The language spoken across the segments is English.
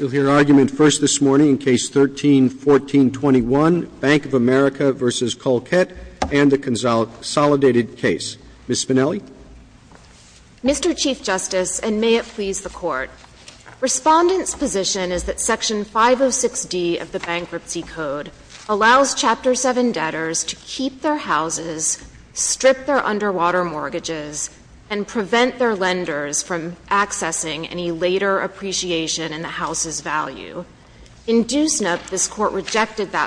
You'll hear argument first this morning in Case 13-1421, Bank of America v. Caulkett, and the consolidated case. Ms. Spinelli? Mr. Chief Justice, and may it please the Court, Respondent's position is that Section 506 D of the Bankruptcy Code allows Chapter 7 debtors to keep their houses, strip their mortgages, and keep their mortgages under water, and that Section 506 D of the Bankruptcy Code allows debtors to keep their houses, strip their mortgages, and keep their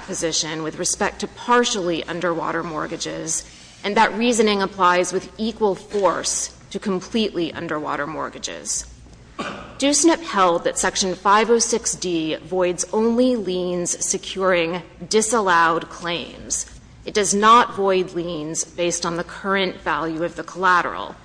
mortgages under water. Do SNP held that Section 506 D voids only liens securing disallowed claims. It does not void liens based on the current value of the collateral.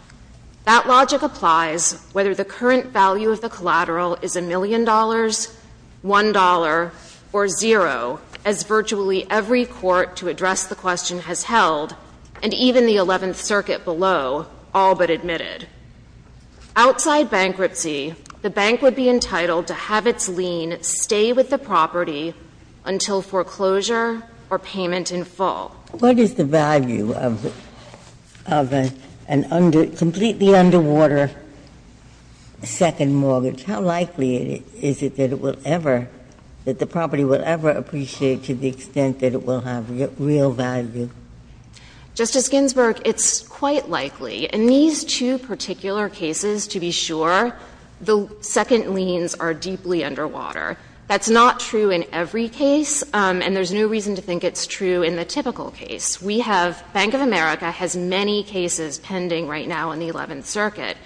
That logic applies whether the current value of the collateral is a million dollars, one dollar, or zero, as virtually every court to address the question has held, and even the Eleventh Circuit below, all but admitted. Outside bankruptcy, the bank would be entitled to have its lien stay with the property until foreclosure or payment in full. Ginsburg, what is the value of a completely underwater second mortgage? How likely is it that it will ever, that the property will ever appreciate to the extent that it will have real value? Justice Ginsburg, it's quite likely. In these two particular cases, to be sure, the second liens are deeply underwater. That's not true in every case, and there's no reason to think it's true in the typical case. We have, Bank of America has many cases pending right now in the Eleventh Circuit.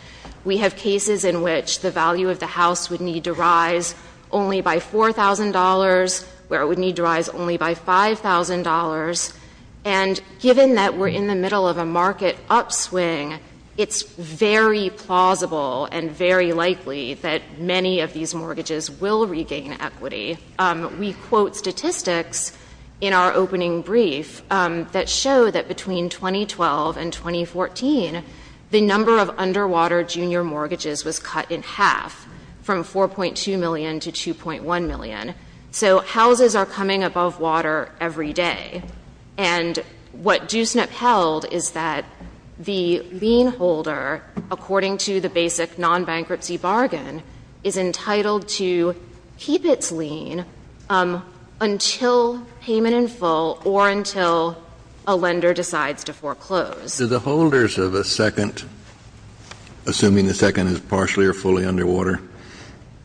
We have cases in which the value of the house would need to rise only by $4,000, where it would need to rise only by $5,000. And given that we're in the middle of a market upswing, it's very plausible and very likely that many of these mortgages will regain equity. We quote statistics in our opening brief that show that between 2012 and 2014, the number of underwater junior mortgages was cut in half, from 4.2 million to 2.1 million. So houses are coming above water every day. And what Doosnip held is that the lien holder, according to the basic non-bankruptcy bargain, is entitled to keep its lien until payment in full or until a lender decides to foreclose. Kennedy, the holders of a second, assuming the second is partially or fully underwater,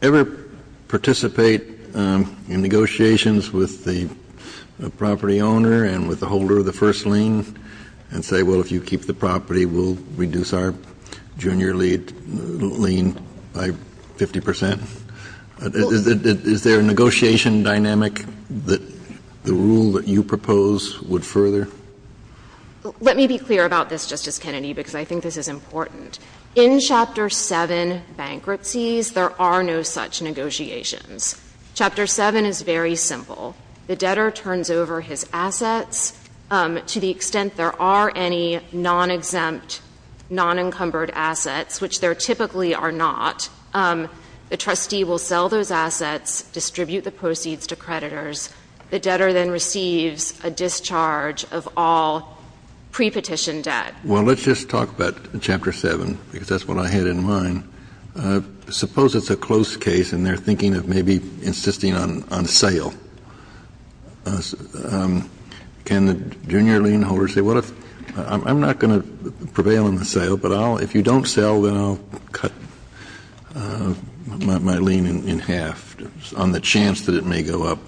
ever participate in negotiations with the property owner and with the holder of the first lien and say, well, if you keep the property, we'll reduce our junior lien by 50 percent? Is there a negotiation dynamic that the rule that you propose would further? Let me be clear about this, Justice Kennedy, because I think this is important. In Chapter 7 bankruptcies, there are no such negotiations. Chapter 7 is very simple. The debtor turns over his assets to the extent there are any non-exempt, non-encumbered assets, which there typically are not. The trustee will sell those assets, distribute the proceeds to creditors. The debtor then receives a discharge of all pre-petition debt. Well, let's just talk about Chapter 7, because that's what I had in mind. Suppose it's a close case and they're thinking of maybe insisting on sale. Can the junior lien holder say, well, I'm not going to prevail in the sale, but if you don't sell, then I'll cut my lien in half on the chance that it may go up?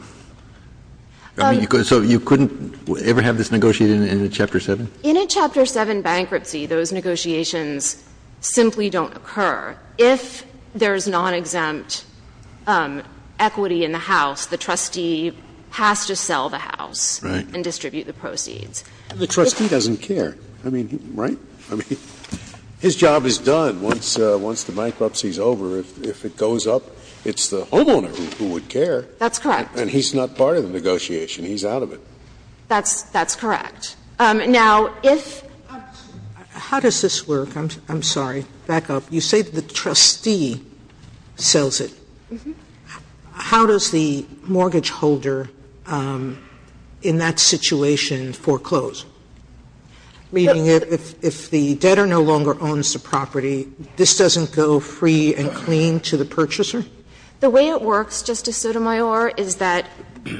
So you couldn't ever have this negotiated in Chapter 7? In a Chapter 7 bankruptcy, those negotiations simply don't occur. If there's non-exempt equity in the house, the trustee has to sell the house and distribute the proceeds. Scalia. The trustee doesn't care, right? I mean, his job is done once the bankruptcy is over. If it goes up, it's the homeowner who would care. That's correct. And he's not part of the negotiation. He's out of it. Sotomayor, if the trustee sells it, how does the mortgage holder, in that situation, foreclose? Meaning if the debtor no longer owns the property, this doesn't go free and clean to the purchaser? The way it works, Justice Sotomayor, is that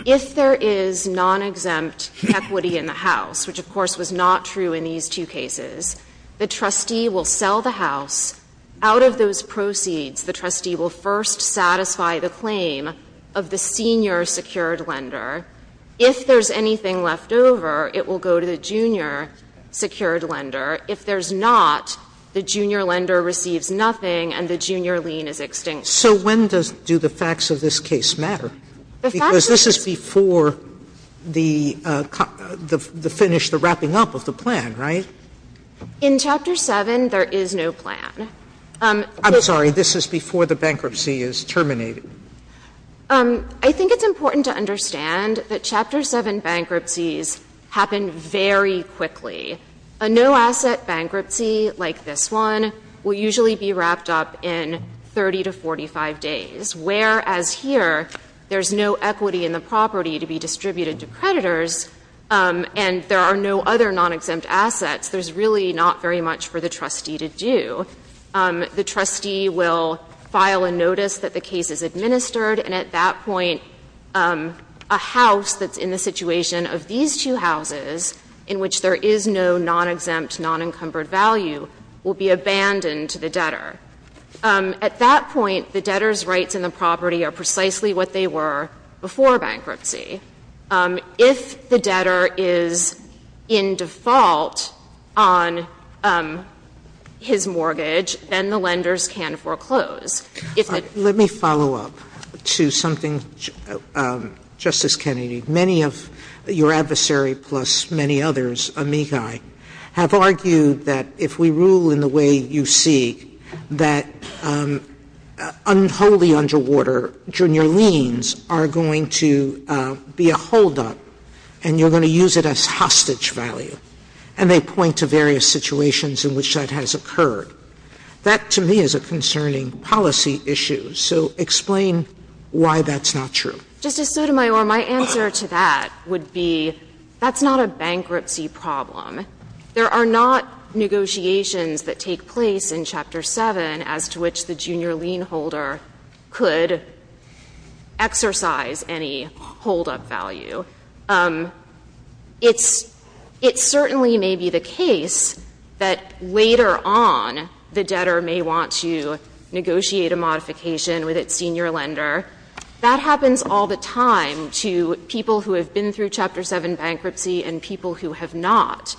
if there is non-exempt equity in the house, which of course was not true in these two cases, the trustee will sell the property, and with those proceeds, the trustee will first satisfy the claim of the senior secured lender. If there's anything left over, it will go to the junior secured lender. If there's not, the junior lender receives nothing and the junior lien is extinct. So when does the facts of this case matter? Because this is before the finish, the wrapping up of the plan, right? In Chapter 7, there is no plan. I'm sorry, this is before the bankruptcy is terminated. I think it's important to understand that Chapter 7 bankruptcies happen very quickly. A no-asset bankruptcy, like this one, will usually be wrapped up in 30 to 45 days. Whereas here, there's no equity in the property to be distributed to creditors and there are no other non-exempt assets, there's really not very much for the trustee to do. The trustee will file a notice that the case is administered, and at that point, a house that's in the situation of these two houses, in which there is no non-exempt, non-encumbered value, will be abandoned to the debtor. At that point, the debtor's rights in the property are precisely what they were before bankruptcy. If the debtor is in default on his mortgage, then the lenders can foreclose. If the- Let me follow up to something, Justice Kennedy. Many of your adversary, plus many others, amici, have argued that if we rule in the way you see, that unholy underwater junior liens are going to be a hold-up, and you're going to use it as hostage value. And they point to various situations in which that has occurred. That, to me, is a concerning policy issue, so explain why that's not true. Justice Sotomayor, my answer to that would be, that's not a bankruptcy problem. There are not negotiations that take place in Chapter 7 as to which the junior lien holder could exercise any hold-up value. It certainly may be the case that later on, the debtor may want to negotiate a modification with its senior lender. That happens all the time to people who have been through Chapter 7 bankruptcy and people who have not.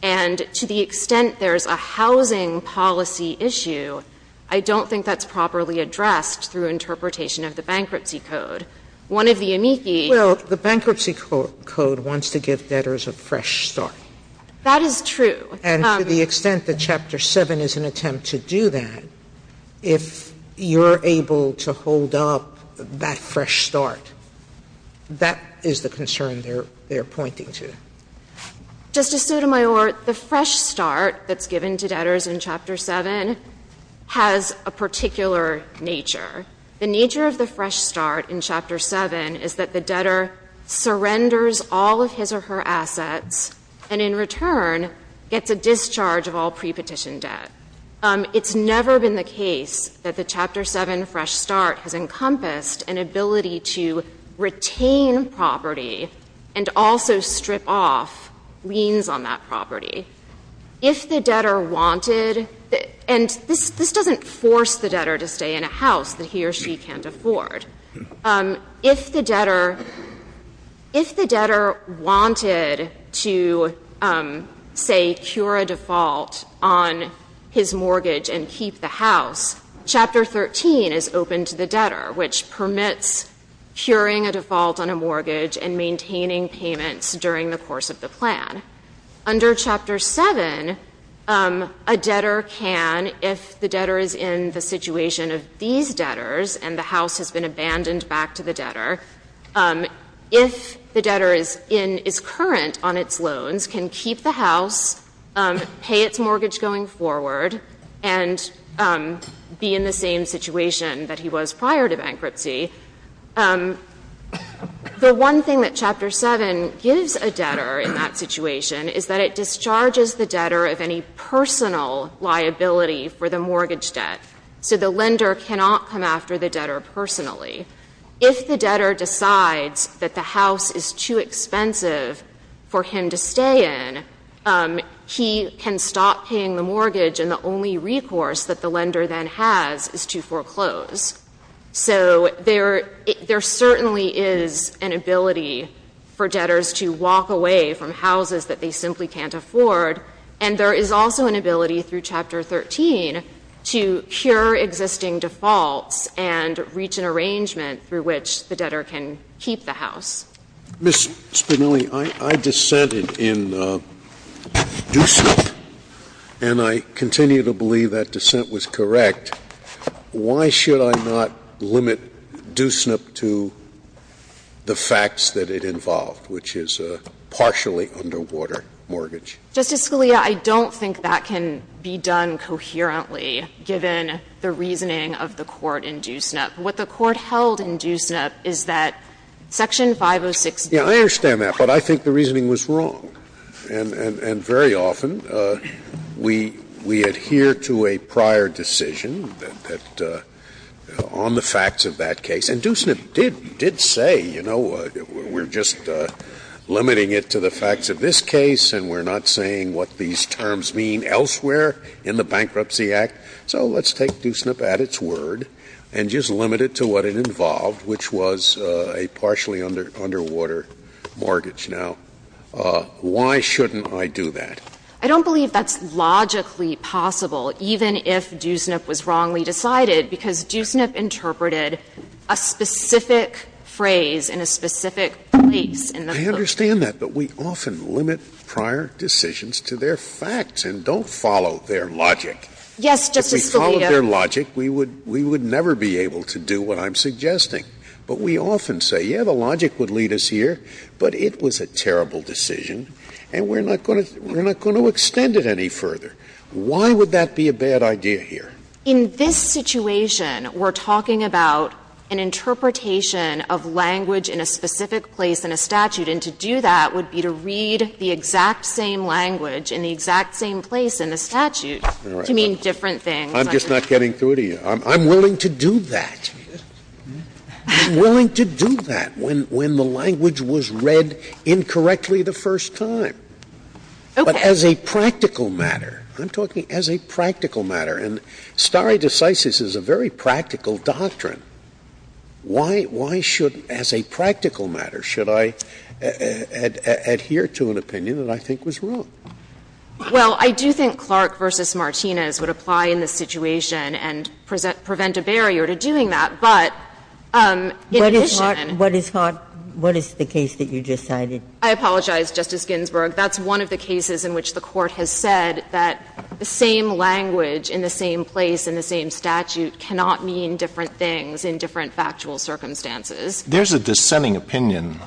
And to the extent there's a housing policy issue, I don't think that's properly addressed through interpretation of the Bankruptcy Code. One of the amici- Well, the Bankruptcy Code wants to give debtors a fresh start. That is true. And to the extent that Chapter 7 is an attempt to do that, if you're able to hold up that fresh start, that is the concern they're pointing to. Justice Sotomayor, the fresh start that's given to debtors in Chapter 7 has a particular nature. The nature of the fresh start in Chapter 7 is that the debtor surrenders all of his or her assets and, in return, gets a discharge of all prepetition debt. It's never been the case that the Chapter 7 fresh start has encompassed an ability to retain property and also strip off liens on that property. If the debtor wanted- and this doesn't force the debtor to stay in a house that he or she can't afford. If the debtor wanted to, say, cure a default on his mortgage and keep the house, Chapter 13 is open to the debtor, which permits curing a default on a mortgage and maintaining payments during the course of the plan. Under Chapter 7, a debtor can, if the debtor is in the situation of these debtors and the debtor has been abandoned back to the debtor, if the debtor is current on its loans, can keep the house, pay its mortgage going forward, and be in the same situation that he was prior to bankruptcy. The one thing that Chapter 7 gives a debtor in that situation is that it discharges the debtor of any personal liability for the mortgage debt. So the lender cannot come after the debtor personally. If the debtor decides that the house is too expensive for him to stay in, he can stop paying the mortgage, and the only recourse that the lender then has is to foreclose. So there certainly is an ability for debtors to walk away from houses that they simply can't afford, and there is also an ability through Chapter 13 to cure existing defaults and reach an arrangement through which the debtor can keep the house. Scalia. Ms. Spinelli, I dissented in DUSNIP, and I continue to believe that dissent was correct. Why should I not limit DUSNIP to the facts that it involved, which is a partially underwater mortgage? Justice Scalia, I don't think that can be done coherently, given the reasoning of the Court in DUSNIP. What the Court held in DUSNIP is that Section 506B. Yes, I understand that, but I think the reasoning was wrong. And very often we adhere to a prior decision that the – on the facts of that case. And DUSNIP did say, you know, we're just limiting it to the facts of this case, and we're not saying what these terms mean elsewhere in the Bankruptcy Act. So let's take DUSNIP at its word and just limit it to what it involved, which was a partially underwater mortgage. Now, why shouldn't I do that? I don't believe that's logically possible, even if DUSNIP was wrongly decided, because DUSNIP interpreted a specific phrase in a specific place in the book. I understand that, but we often limit prior decisions to their facts and don't follow their logic. Yes, Justice Scalia. If we followed their logic, we would never be able to do what I'm suggesting. But we often say, yes, the logic would lead us here, but it was a terrible decision and we're not going to extend it any further. Why would that be a bad idea here? In this situation, we're talking about an interpretation of language in a specific place in a statute, and to do that would be to read the exact same language in the exact same place in the statute to mean different things. I'm just not getting through to you. I'm willing to do that. I'm willing to do that when the language was read incorrectly the first time. Okay. But as a practical matter, I'm talking as a practical matter. And stare decisis is a very practical doctrine. Why should, as a practical matter, should I adhere to an opinion that I think was wrong? Well, I do think Clark v. Martinez would apply in this situation and prevent a barrier to doing that, but in addition to that. What is the case that you just cited? I apologize, Justice Ginsburg. That's one of the cases in which the Court has said that the same language in the same place in the same statute cannot mean different things in different factual circumstances. There's a dissenting opinion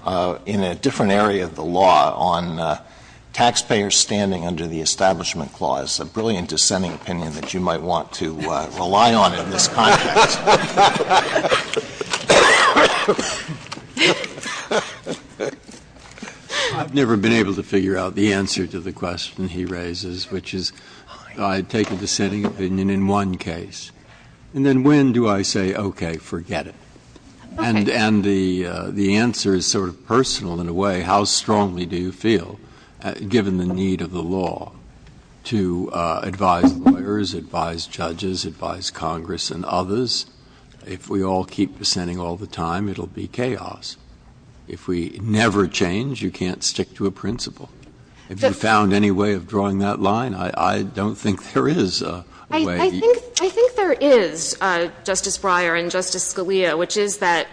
in a different area of the law on taxpayers standing under the Establishment Clause, a brilliant dissenting opinion that you might want to rely on in this context. I've never been able to figure out the answer to the question he raises, which is I take a dissenting opinion in one case, and then when do I say, okay, forget it? And the answer is sort of personal in a way. How strongly do you feel, given the need of the law, to advise lawyers, advise judges, advise Congress and others, if we all keep dissenting all the time, it will be chaos? If we never change, you can't stick to a principle. Have you found any way of drawing that line? I don't think there is a way. I think there is, Justice Breyer and Justice Scalia, which is that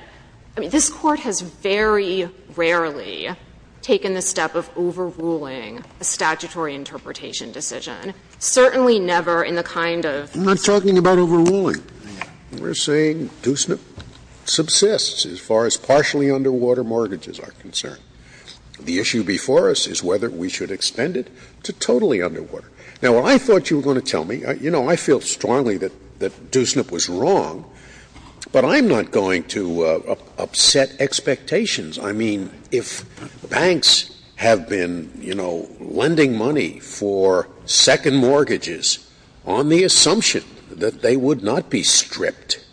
this Court has very rarely taken the step of overruling a statutory interpretation decision, certainly never in the kind of. I'm not talking about overruling. We're saying Doosnip subsists as far as partially underwater mortgages are concerned. The issue before us is whether we should extend it to totally underwater. Now, what I thought you were going to tell me – you know, I feel strongly that Doosnip was wrong, but I'm not going to upset expectations. I mean, if banks have been, you know, lending money for second mortgages on the assumption that they would not be stripped,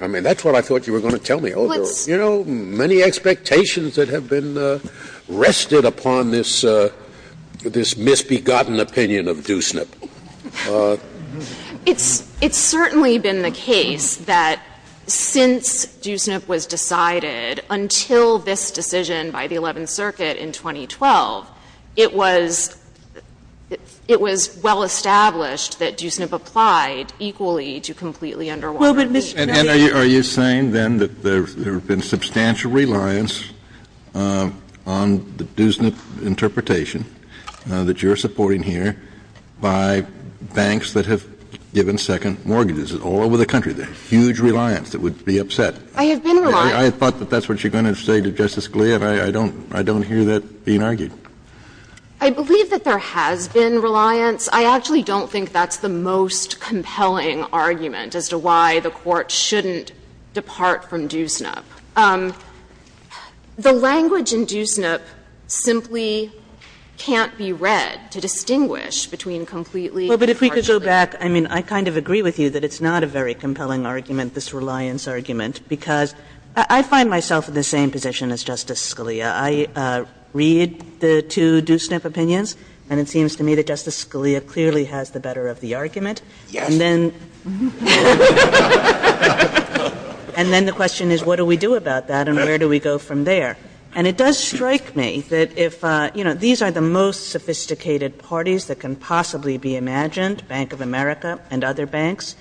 I mean, that's what I thought you were going to tell me. You know, many expectations that have been rested upon this – this misbegotten opinion of Doosnip. It's certainly been the case that since Doosnip was decided until this decision by the Eleventh Circuit in 2012, it was – it was well established that Doosnip applied equally to completely underwater mortgages. And are you saying, then, that there has been substantial reliance on the Doosnip interpretation that you're supporting here by banks that have given second mortgages all over the country, the huge reliance that would be upset? I have been reliant. I thought that that's what you're going to say to Justice Scalia. I don't – I don't hear that being argued. I believe that there has been reliance. I actually don't think that's the most compelling argument as to why the Court shouldn't depart from Doosnip. The language in Doosnip simply can't be read to distinguish between completely Kagan. Well, but if we could go back, I mean, I kind of agree with you that it's not a very compelling argument, this reliance argument, because I find myself in the same position as Justice Scalia. I read the two Doosnip opinions, and it seems to me that Justice Scalia clearly has the better of the argument. And then the question is, what are we doing? What do we do about that, and where do we go from there? And it does strike me that if – you know, these are the most sophisticated parties that can possibly be imagined, Bank of America and other banks,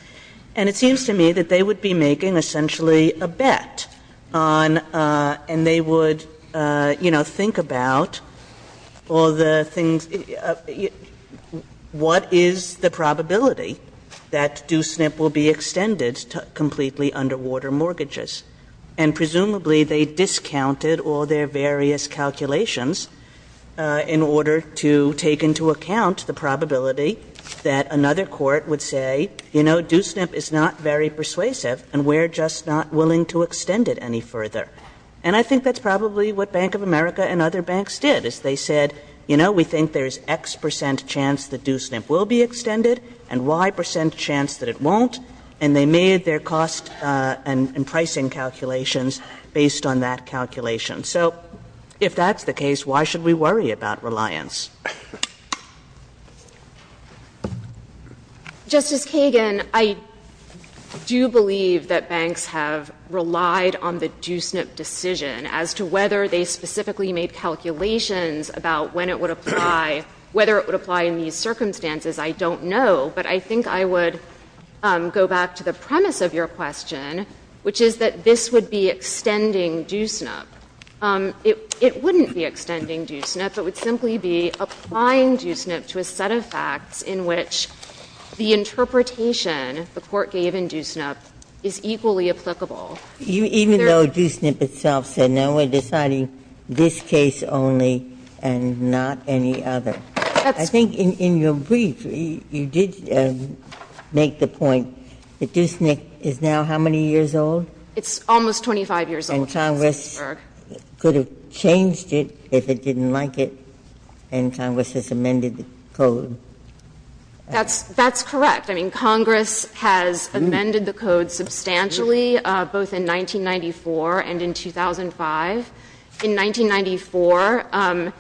and it seems to me that they would be making essentially a bet on – and they would, you know, think about all the things – what is the probability that Doosnip will be extended to completely underwater mortgages? And presumably, they discounted all their various calculations in order to take into account the probability that another court would say, you know, Doosnip is not very persuasive, and we're just not willing to extend it any further. And I think that's probably what Bank of America and other banks did, is they said, you know, we think there's X percent chance that Doosnip will be extended and Y percent chance that it won't, and they made their cost and pricing calculations based on that calculation. So if that's the case, why should we worry about reliance? Justice Kagan, I do believe that banks have relied on the Doosnip decision as to whether they specifically made calculations about when it would apply, whether it would apply, whether it would apply, whether it would apply, whether it would apply. And I would like to go back to the premise of your question, which is that this would be extending Doosnip. It wouldn't be extending Doosnip. It would simply be applying Doosnip to a set of facts in which the interpretation the Court gave in Doosnip is equally applicable. Ginsburg. Even though Doosnip itself said, no, we're deciding this case only and not any other. I think in your brief, you did make the point that Doosnip is now how many years old? It's almost 25 years old, Justice Ginsburg. And Congress could have changed it if it didn't like it, and Congress has amended the code. That's correct. I mean, Congress has amended the code substantially, both in 1994 and in 2005. In 1994,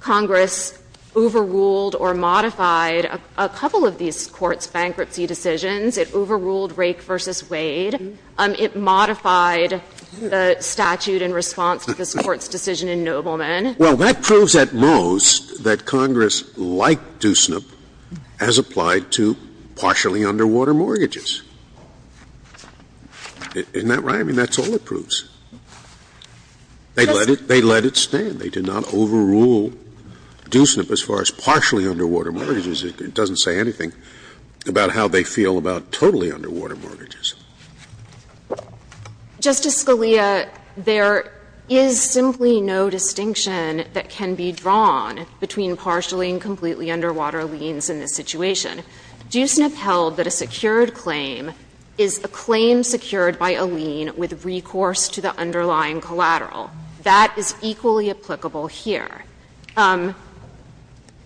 Congress overruled or modified a couple of these courts' bankruptcy decisions. It overruled Rake v. Wade. It modified the statute in response to this Court's decision in Nobleman. Well, that proves at most that Congress, like Doosnip, has applied to partially underwater mortgages. Isn't that right? I mean, that's all it proves. They let it stand. They did not overrule Doosnip as far as partially underwater mortgages. It doesn't say anything about how they feel about totally underwater mortgages. Justice Scalia, there is simply no distinction that can be drawn between partially and completely underwater liens in this situation. Doosnip held that a secured claim is a claim secured by a lien with recourse to the underlying collateral. That is equally applicable here.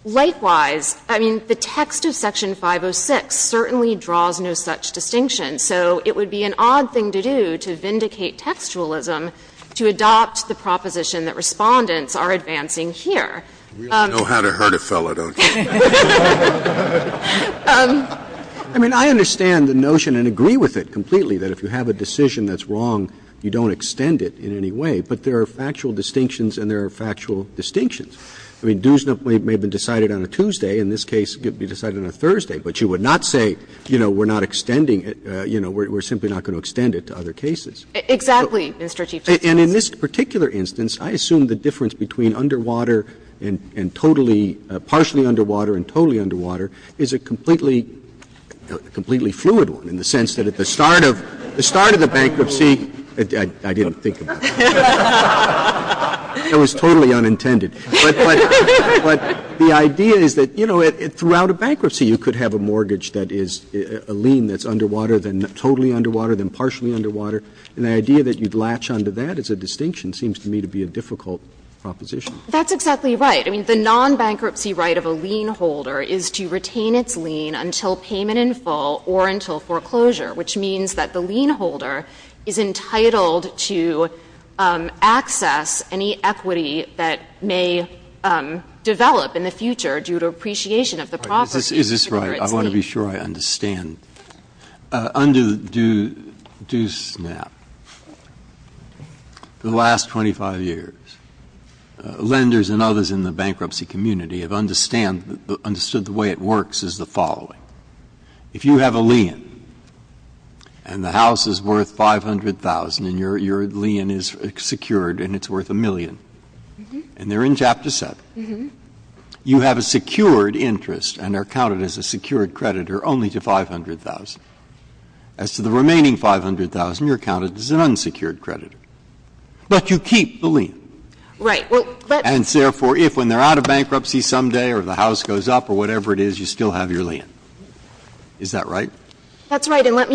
Likewise, I mean, the text of Section 506 certainly draws no such distinction. So it would be an odd thing to do to vindicate textualism to adopt the proposition that Respondents are advancing here. We all know how to hurt a fellow, don't we? I mean, I understand the notion and agree with it completely, that if you have a decision that's wrong, you don't extend it in any way. But there are factual distinctions, and there are factual distinctions. I mean, Doosnip may have been decided on a Tuesday. In this case, it could be decided on a Thursday. But you would not say, you know, we're not extending it, you know, we're simply not going to extend it to other cases. Exactly, Mr. Chief Justice. And in this particular instance, I assume the difference between underwater and totally – partially underwater and totally underwater is a completely – a completely fluid one in the sense that at the start of the bankruptcy – I didn't think about it. It was totally unintended. But the idea is that, you know, throughout a bankruptcy, you could have a mortgage that is a lien that's underwater, then totally underwater, then partially underwater. And the idea that you'd latch onto that as a distinction seems to me to be a difficult proposition. That's exactly right. I mean, the nonbankruptcy right of a lien holder is to retain its lien until payment in full or until foreclosure, which means that the lien holder is entitled to access any equity that may develop in the future due to appreciation of the property to secure its lien. Is this right? I want to be sure I understand. Under DUSNAP, for the last 25 years, lenders and others in the bankruptcy community have understood the way it works is the following. If you have a lien and the house is worth 500,000 and your lien is secured and it's worth a million, and they're in Chapter 7, you have a secured interest and are counted as a secured creditor only to 500,000. As to the remaining 500,000, you're counted as an unsecured creditor, but you keep the lien. Right. And therefore, if when they're out of bankruptcy some day or the house goes up or whatever it is, you still have your lien. Is that right? That's right. I mean, I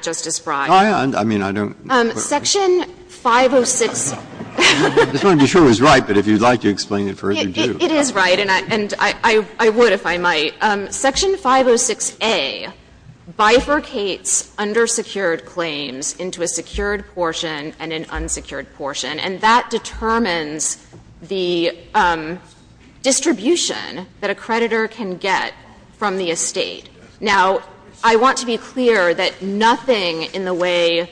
don't quite understand. Section 506 — I just want to be sure it was right, but if you'd like to explain it further, do. It is right, and I would if I might. Section 506a bifurcates undersecured claims into a secured portion and an unsecured portion, and that determines the distribution that a creditor can get from the estate. Now, I want to be clear that nothing in the way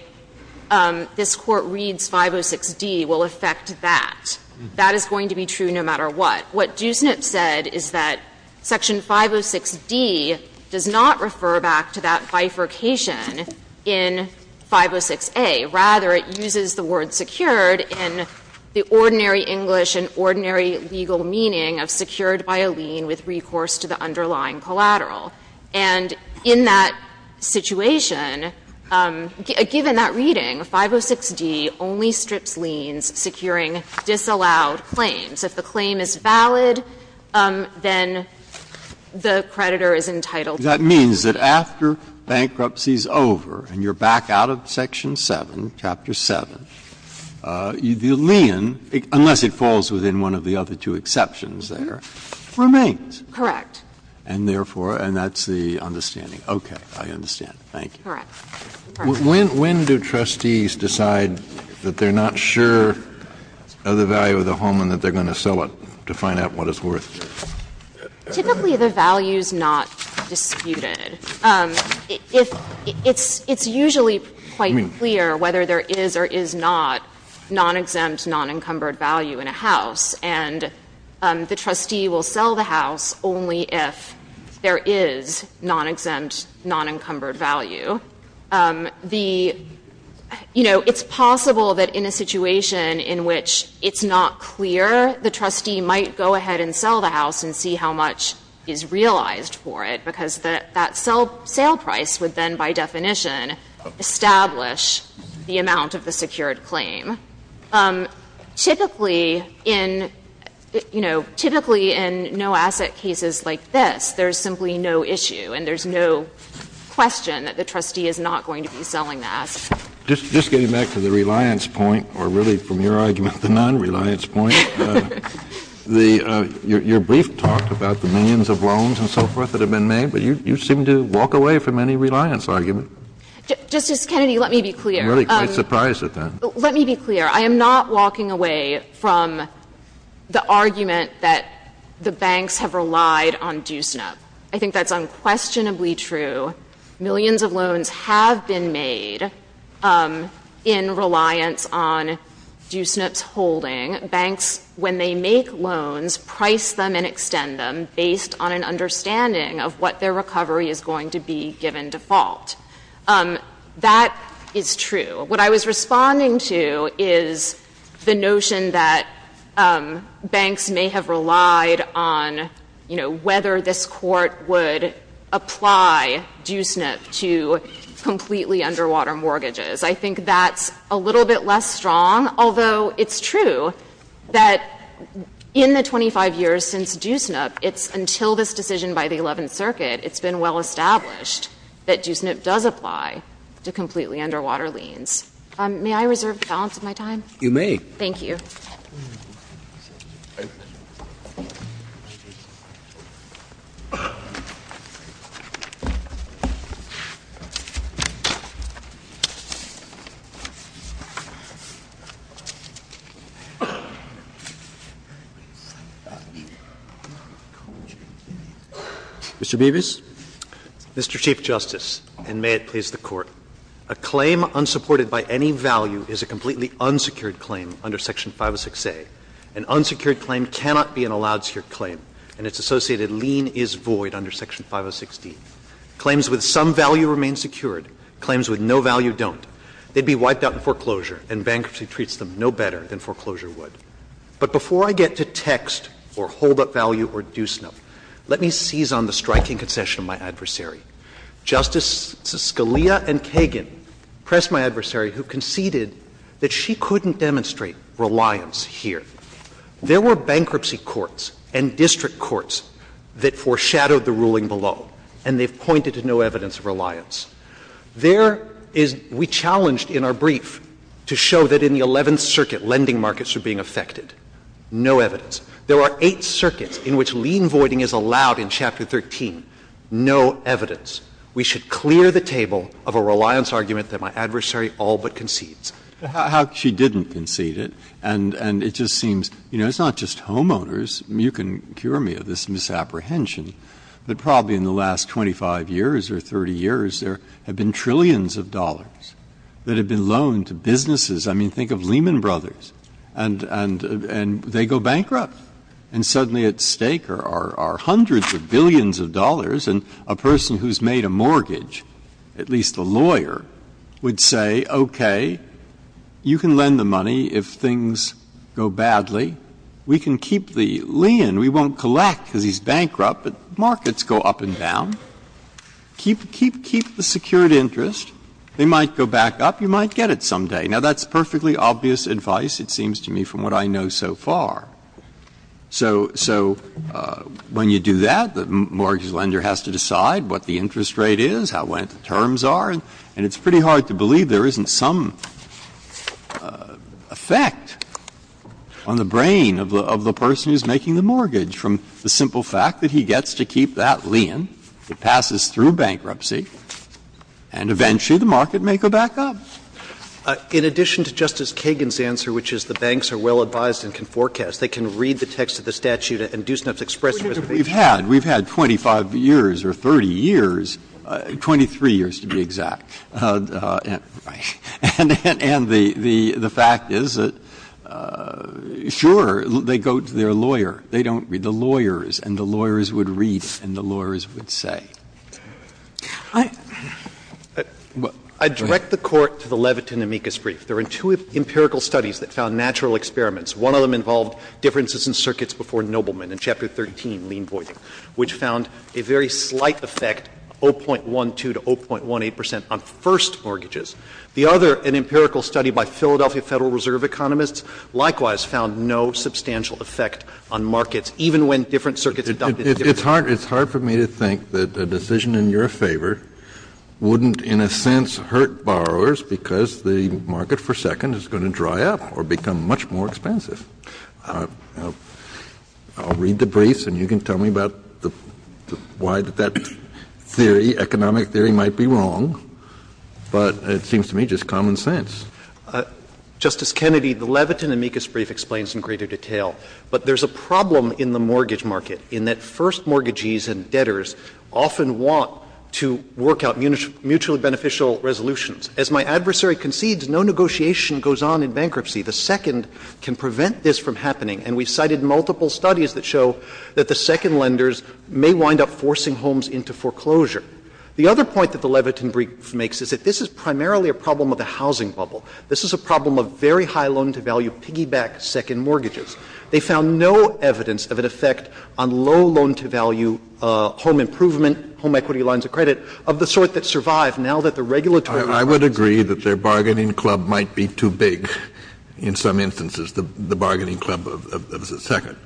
this Court reads 506d will affect that. That is going to be true no matter what. What Dusnip said is that Section 506d does not refer back to that bifurcation in 506a. Rather, it uses the word secured in the ordinary English and ordinary legal meaning of secured by a lien with recourse to the underlying collateral. And in that situation, given that reading, 506d only strips liens securing disallowed claims. If the claim is valid, then the creditor is entitled to the claim. That means that after bankruptcy is over and you're back out of Section 7, Chapter 7, the lien, unless it falls within one of the other two exceptions there, remains. Correct. And therefore, and that's the understanding. Okay. I understand. Thank you. Correct. When do trustees decide that they're not sure of the value of the home and that they're going to sell it to find out what it's worth? Typically, the value is not disputed. It's usually quite clear whether there is or is not non-exempt, non-encumbered value in a house. And the trustee will sell the house only if there is non-exempt, non-encumbered value. It's possible that in a situation in which it's not clear, the trustee might go ahead and sell the house and see how much is realized for it. Because that sale price would then, by definition, establish the amount of the secured claim. Typically in, you know, typically in no-asset cases like this, there's simply no issue and there's no question that the trustee is not going to be selling the house. Just getting back to the reliance point, or really from your argument, the non-reliance point, the — your brief talked about the millions of loans and so forth that have been made, but you seem to walk away from any reliance argument. Justice Kennedy, let me be clear. I'm really quite surprised at that. Let me be clear. I am not walking away from the argument that the banks have relied on DUSNIP. I think that's unquestionably true. Millions of loans have been made in reliance on DUSNIP's holding. Banks, when they make loans, price them and extend them based on an understanding of what their recovery is going to be given default. That is true. What I was responding to is the notion that banks may have relied on, you know, whether this Court would apply DUSNIP to completely underwater mortgages. I think that's a little bit less strong, although it's true that in the 25 years since DUSNIP, it's until this decision by the Eleventh Circuit, it's been well established that DUSNIP does apply to completely underwater liens. May I reserve the balance of my time? Roberts. You may. Thank you. Mr. Bevis. Mr. Chief Justice, and may it please the Court. A claim unsupported by any value is a completely unsecured claim under Section 506A. An unsecured claim cannot be an allowed secured claim, and it's associated lien is void under Section 506D. Claims with some value remain secured. Claims with no value don't. They'd be wiped out in foreclosure, and bankruptcy treats them no better than foreclosure would. But before I get to text or hold up value or DUSNIP, let me seize on the striking concession of my adversary. Justices Scalia and Kagan pressed my adversary, who conceded that she couldn't demonstrate reliance here. There were bankruptcy courts and district courts that foreshadowed the ruling below, and they've pointed to no evidence of reliance. There is — we challenged in our brief to show that in the Eleventh Circuit, lending markets are being affected. No evidence. There are eight circuits in which lien voiding is allowed in Chapter 13. No evidence. We should clear the table of a reliance argument that my adversary all but concedes. Breyer. How she didn't concede it, and it just seems, you know, it's not just homeowners — you can cure me of this misapprehension — but probably in the last 25 years or 30 years, there have been trillions of dollars that have been loaned to businesses. I mean, think of Lehman Brothers, and they go bankrupt. And suddenly at stake are hundreds of billions of dollars, and a person who's made a mortgage, at least a lawyer, would say, okay, you can lend the money if things go badly. We can keep the lien. We won't collect because he's bankrupt, but markets go up and down. Keep the secured interest. They might go back up. You might get it someday. Now, that's perfectly obvious advice, it seems to me, from what I know so far. So when you do that, the mortgage lender has to decide what the interest rate is, how lent terms are, and it's pretty hard to believe there isn't some effect on the brain of the person who's making the mortgage from the simple fact that he gets to keep that lien, it passes through bankruptcy, and eventually the market may go back up. In addition to Justice Kagan's answer, which is the banks are well advised and can forecast, they can read the text of the statute and do enough to express their reservations. Breyer. We've had 25 years or 30 years, 23 years to be exact. And the fact is that, sure, they go to their lawyer. They don't read the lawyers, and the lawyers would read and the lawyers would say. I direct the Court to the Levitin-Amicus brief. There are two empirical studies that found natural experiments. One of them involved differences in circuits before Nobleman in Chapter 13, lien voiding, which found a very slight effect, 0.12 to 0.18 percent, on first mortgages. The other, an empirical study by Philadelphia Federal Reserve economists, likewise found no substantial effect on markets, even when different circuits adopted different I think the decision in your favor wouldn't, in a sense, hurt borrowers, because the market for a second is going to dry up or become much more expensive. I'll read the briefs, and you can tell me about why that theory, economic theory, might be wrong, but it seems to me just common sense. Justice Kennedy, the Levitin-Amicus brief explains in greater detail, but there's a problem in the mortgage market, in that first mortgagees and debtors often want to work out mutually beneficial resolutions. As my adversary concedes, no negotiation goes on in bankruptcy. The second can prevent this from happening, and we cited multiple studies that show that the second lenders may wind up forcing homes into foreclosure. The other point that the Levitin brief makes is that this is primarily a problem of a housing bubble. This is a problem of very high loan-to-value piggyback second mortgages. They found no evidence of an effect on low loan-to-value home improvement, home equity lines of credit, of the sort that survive now that the regulatory compromise is in place. Kennedy, I would agree that their bargaining club might be too big in some instances, the bargaining club of the second.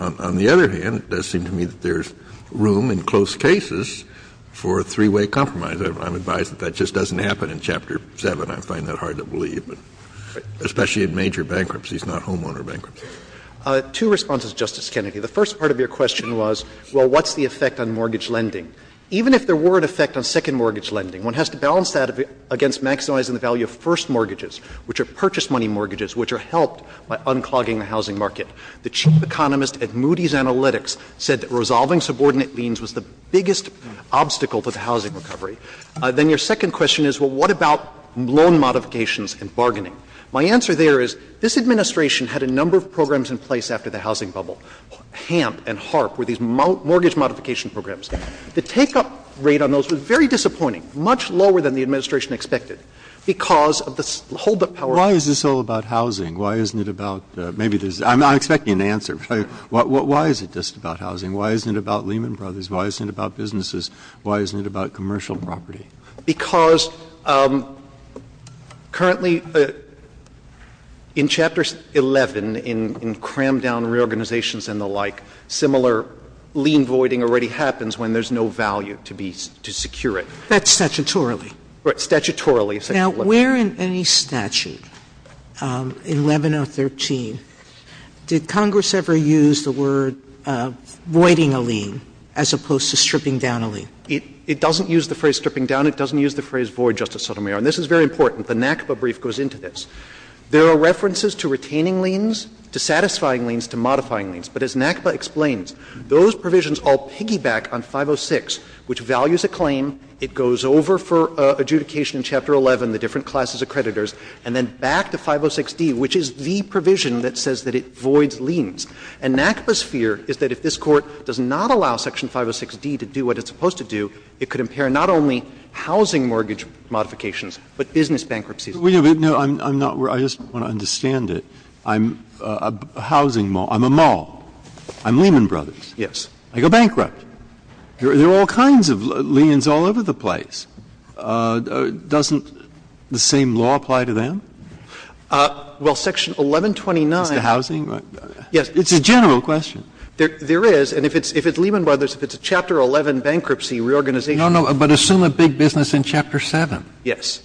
On the other hand, it does seem to me that there's room in close cases for a three-way compromise. I'm advised that that just doesn't happen in Chapter 7. I find that hard to believe, especially in major bankruptcies, not homeowner bankruptcies. Two responses, Justice Kennedy. The first part of your question was, well, what's the effect on mortgage lending? Even if there were an effect on second mortgage lending, one has to balance that against maximizing the value of first mortgages, which are purchase money mortgages which are helped by unclogging the housing market. The chief economist at Moody's Analytics said that resolving subordinate liens was the biggest obstacle to the housing recovery. Then your second question is, well, what about loan modifications and bargaining? My answer there is this Administration had a number of programs in place after the housing bubble. HAMP and HARP were these mortgage modification programs. The take-up rate on those was very disappointing, much lower than the Administration expected, because of the hold-up power. Breyer, why is this all about housing? Why isn't it about the — maybe there's — I'm expecting an answer. Why is it just about housing? Why isn't it about Lehman Brothers? Why isn't it about businesses? Why isn't it about commercial property? Because currently in Chapter 11, in cram-down reorganizations and the like, similar lien voiding already happens when there's no value to be — to secure it. That's statutorily? Right. Statutorily. Now, where in any statute, in 11 or 13, did Congress ever use the word voiding a lien as opposed to stripping down a lien? It doesn't use the phrase stripping down. It doesn't use the phrase void, Justice Sotomayor. And this is very important. The NACPA brief goes into this. There are references to retaining liens, to satisfying liens, to modifying liens. But as NACPA explains, those provisions all piggyback on 506, which values a claim, it goes over for adjudication in Chapter 11, the different classes of creditors, and then back to 506d, which is the provision that says that it voids liens. And NACPA's fear is that if this Court does not allow Section 506d to do what it's supposed to do, it could impair not only housing mortgage modifications, but business bankruptcies. But, no, I'm not — I just want to understand it. I'm a housing mall. I'm a mall. I'm Lehman Brothers. Yes. I go bankrupt. There are all kinds of liens all over the place. Doesn't the same law apply to them? Well, Section 1129 — It's the housing? Yes. It's a general question. There is. And if it's Lehman Brothers, if it's a Chapter 11 bankruptcy reorganization — No, no. But assume a big business in Chapter 7. Yes.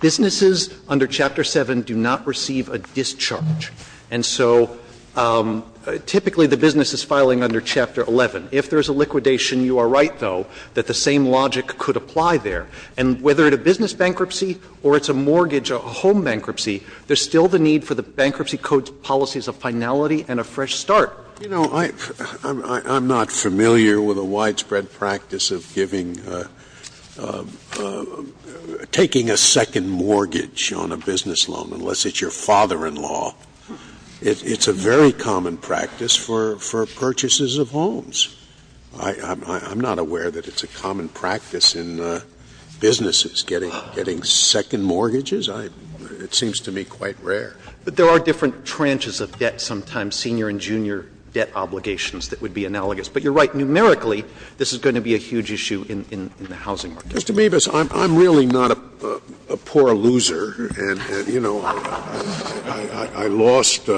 Businesses under Chapter 7 do not receive a discharge. And so typically the business is filing under Chapter 11. If there is a liquidation, you are right, though, that the same logic could apply there. And whether it's a business bankruptcy or it's a mortgage or a home bankruptcy, there's still the need for the Bankruptcy Code's policies of finality and a fresh start. You know, I'm not familiar with a widespread practice of giving — taking a second mortgage on a business loan, unless it's your father-in-law. It's a very common practice for purchases of homes. I'm not aware that it's a common practice in businesses, getting second mortgages. It seems to me quite rare. But there are different tranches of debt sometimes, senior and junior debt obligations that would be analogous. But you're right. Numerically, this is going to be a huge issue in the housing market. Mr. Meebus, I'm really not a poor loser and, you know, I lost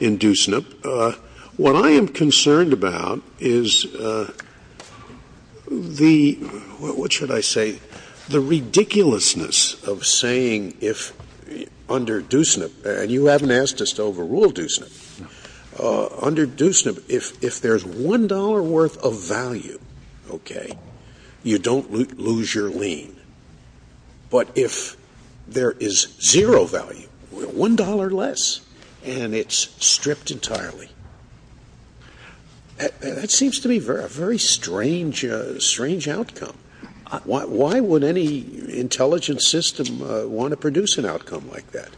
in Deusnip. But what I am concerned about is the — what should I say? The ridiculousness of saying if, under Deusnip — and you haven't asked us to overrule Deusnip. Under Deusnip, if there's $1 worth of value, okay, you don't lose your lien. But if there is zero value, $1 less, and it's stripped entirely, that seems to be a very strange, strange outcome. Why would any intelligence system want to produce an outcome like that?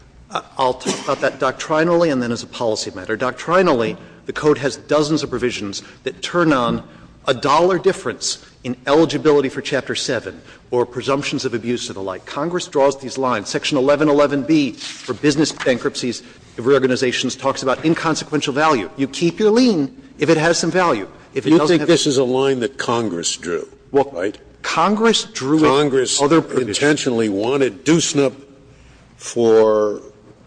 I'll talk about that doctrinally and then as a policy matter. Doctrinally, the Code has dozens of provisions that turn on a dollar difference in eligibility for Chapter 7 or presumptions of abuse and the like. Congress draws these lines. Section 1111B for business bankruptcies of organizations talks about inconsequential value. You keep your lien if it has some value. If it doesn't have some value. Scalia. You think this is a line that Congress drew, right? Congress drew it. Congress intentionally wanted Deusnip for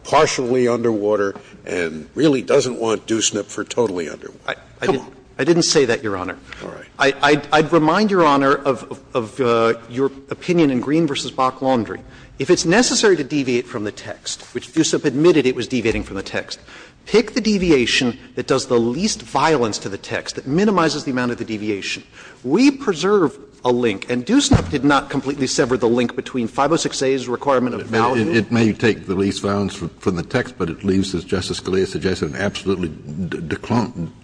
partially underwater and really doesn't want Deusnip for totally underwater. Come on. I didn't say that, Your Honor. All right. I'd remind, Your Honor, of your opinion in Green v. Bach-Laundrie. If it's necessary to deviate from the text, which Deusnip admitted it was deviating from the text, pick the deviation that does the least violence to the text, that minimizes the amount of the deviation. We preserve a link, and Deusnip did not completely sever the link between 506a's requirement of value. It may take the least violence from the text, but it leaves, as Justice Scalia suggested, an absolutely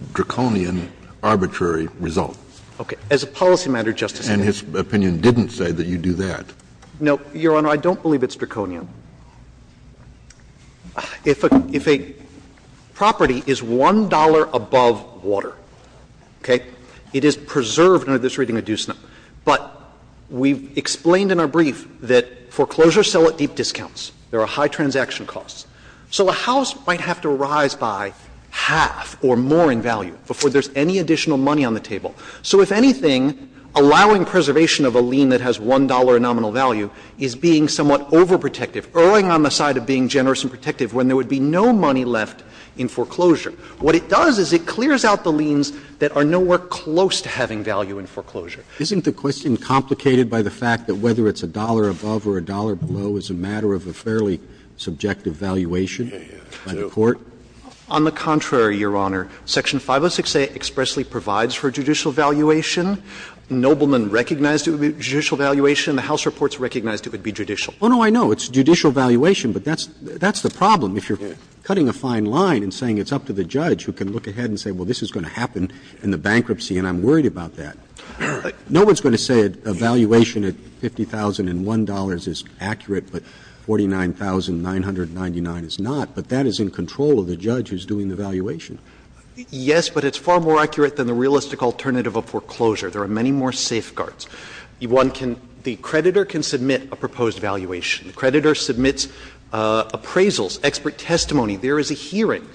draconian, arbitrary result. Okay. As a policy matter, Justice Scalia. And his opinion didn't say that you do that. No, Your Honor. I don't believe it's draconian. If a property is $1 above water, okay, it is preserved under this reading of Deusnip. But we've explained in our brief that foreclosures sell at deep discounts. There are high transaction costs. So a house might have to rise by half or more in value before there's any additional money on the table. So if anything, allowing preservation of a lien that has $1 nominal value is being somewhat overprotective, erring on the side of being generous and protective when there would be no money left in foreclosure. What it does is it clears out the liens that are nowhere close to having value in foreclosure. Roberts. Isn't the question complicated by the fact that whether it's $1 above or $1 below is a matter of a fairly subjective valuation by the court? On the contrary, Your Honor. Section 506A expressly provides for judicial valuation. Nobleman recognized it would be judicial valuation. The House reports recognized it would be judicial. Oh, no, I know. It's judicial valuation. But that's the problem. If you're cutting a fine line and saying it's up to the judge who can look ahead and say, well, this is going to happen in the bankruptcy and I'm worried about $49,999 is not, but that is in control of the judge who's doing the valuation. Yes, but it's far more accurate than the realistic alternative of foreclosure. There are many more safeguards. One can the creditor can submit a proposed valuation. The creditor submits appraisals, expert testimony. There is a hearing.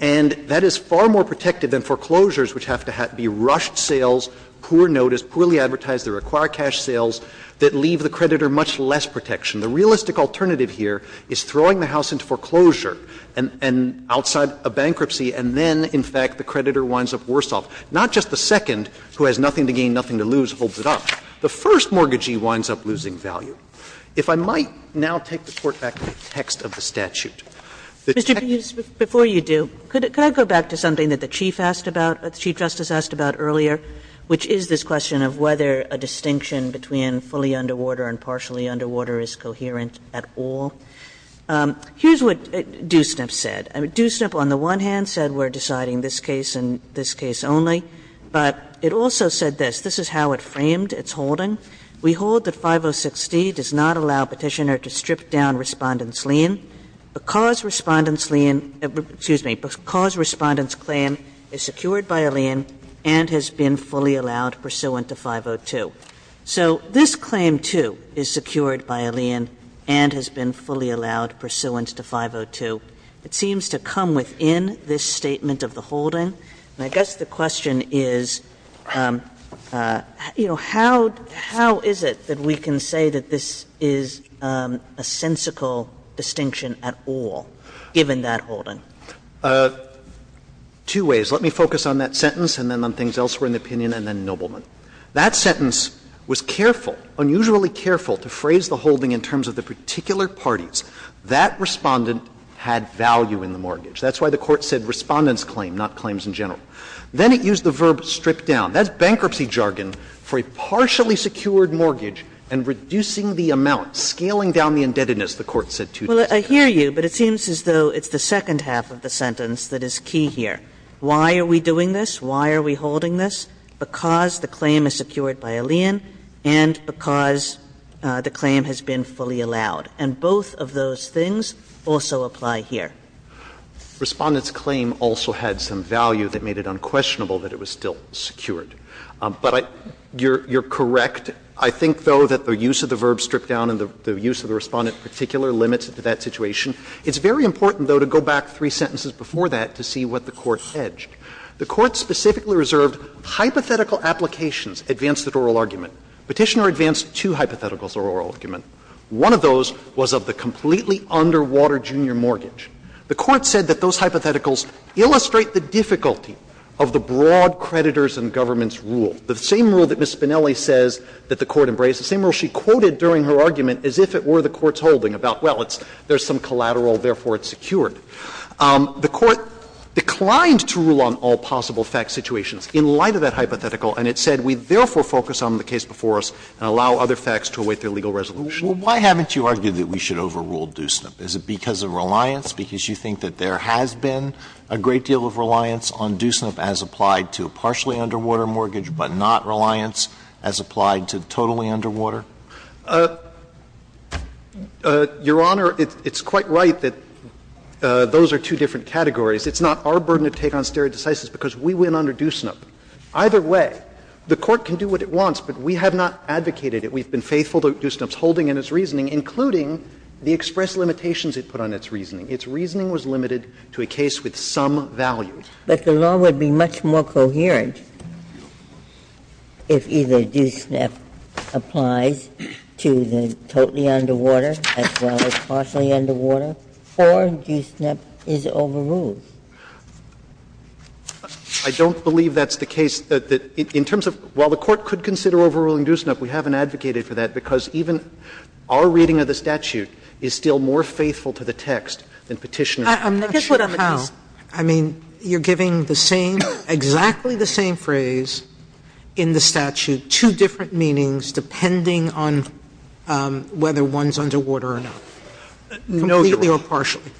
And that is far more protective than foreclosures, which have to be rushed sales, poor notice, poorly advertised, that require cash sales, that leave the creditor much less protection. The realistic alternative here is throwing the House into foreclosure and outside a bankruptcy, and then, in fact, the creditor winds up worse off. Not just the second, who has nothing to gain, nothing to lose, holds it up. The first mortgagee winds up losing value. If I might now take the Court back to the text of the statute. The text of the statute. Kagan, before you do, could I go back to something that the Chief asked about, Chief Justice asked about earlier, which is this question of whether a distinction between fully underwater and partially underwater is coherent at all. Here's what Doosnip said. Doosnip, on the one hand, said we're deciding this case and this case only. But it also said this. This is how it framed its holding. We hold that 506D does not allow Petitioner to strip down Respondent's lien because Respondent's lien excuse me, because Respondent's claim is secured by a lien and has been fully allowed pursuant to 502. So this claim, too, is secured by a lien and has been fully allowed pursuant to 502. It seems to come within this statement of the holding. And I guess the question is, you know, how is it that we can say that this is a sensical distinction at all, given that holding? Dreeben, Two ways. Let me focus on that sentence and then on things elsewhere in the opinion and then Nobleman. That sentence was careful, unusually careful, to phrase the holding in terms of the particular parties. That Respondent had value in the mortgage. That's why the Court said Respondent's claim, not claims in general. Then it used the verb strip down. That's bankruptcy jargon for a partially secured mortgage and reducing the amount, scaling down the indebtedness, the Court said two days ago. Kagan, I hear you, but it seems as though it's the second half of the sentence that is key here. Why are we doing this? Why are we holding this? Because the claim is secured by Alein and because the claim has been fully allowed. And both of those things also apply here. Respondent's claim also had some value that made it unquestionable that it was still secured. But I you're correct. I think, though, that the use of the verb strip down and the use of the Respondent particular limits that situation. It's very important, though, to go back three sentences before that to see what the Court hedged. The Court specifically reserved hypothetical applications, advanced at oral argument. Petitioner advanced two hypotheticals at oral argument. One of those was of the completely underwater junior mortgage. The Court said that those hypotheticals illustrate the difficulty of the broad creditors and government's rule, the same rule that Ms. Spinelli says that the Court embraced, the same rule she quoted during her argument as if it were the Court's holding about, well, it's, there's some collateral, therefore it's secured. The Court declined to rule on all possible fact situations in light of that hypothetical, and it said we therefore focus on the case before us and allow other facts to await their legal resolution. Alito, why haven't you argued that we should overrule DUSNIP? Is it because of reliance, because you think that there has been a great deal of reliance on DUSNIP as applied to a partially underwater mortgage but not reliance as applied to totally underwater? Your Honor, it's quite right that those are two different categories. It's not our burden to take on stare decisis because we win under DUSNIP. Either way, the Court can do what it wants, but we have not advocated it. We've been faithful to DUSNIP's holding and its reasoning, including the express limitations it put on its reasoning. Its reasoning was limited to a case with some value. But the law would be much more coherent if either DUSNIP applies to the totally underwater as well as partially underwater, or DUSNIP is overruled. I don't believe that's the case. In terms of while the Court could consider overruling DUSNIP, we haven't advocated for that because even our reading of the statute is still more faithful to the text than Petitioner. Sotomayor, I'm not sure how. I mean, you're giving the same, exactly the same phrase in the statute, two different meanings depending on whether one's underwater or not, completely or partially.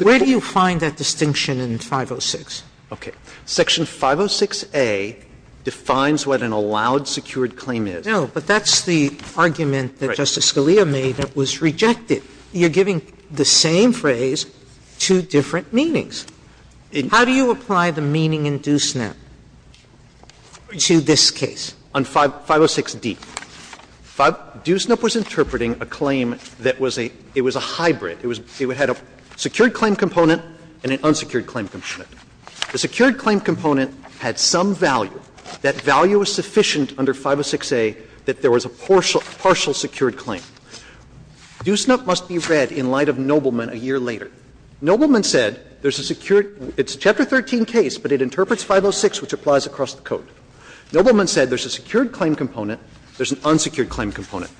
Where do you find that distinction in 506? Okay. Section 506a defines what an allowed secured claim is. No, but that's the argument that Justice Scalia made that was rejected. You're giving the same phrase, two different meanings. How do you apply the meaning in DUSNIP to this case? On 506d, DUSNIP was interpreting a claim that was a hybrid. It had a secured claim component and an unsecured claim component. The secured claim component had some value. That value was sufficient under 506a that there was a partial secured claim. DUSNIP must be read in light of Nobleman a year later. Nobleman said there's a secured – it's a Chapter 13 case, but it interprets 506, which applies across the code. Nobleman said there's a secured claim component, there's an unsecured claim component.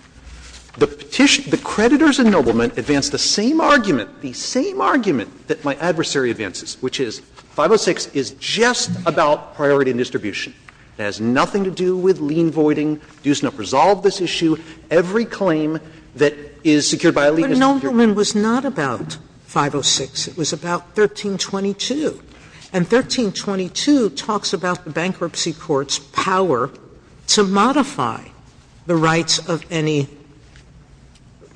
The petition – the creditors in Nobleman advanced the same argument, the same argument that my adversary advances, which is 506 is just about priority and distribution. It has nothing to do with lien voiding. DUSNIP resolved this issue. Every claim that is secured by a lien is secured. Sotomayor, but Nobleman was not about 506. It was about 1322. And 1322 talks about the bankruptcy court's power to modify the rights of any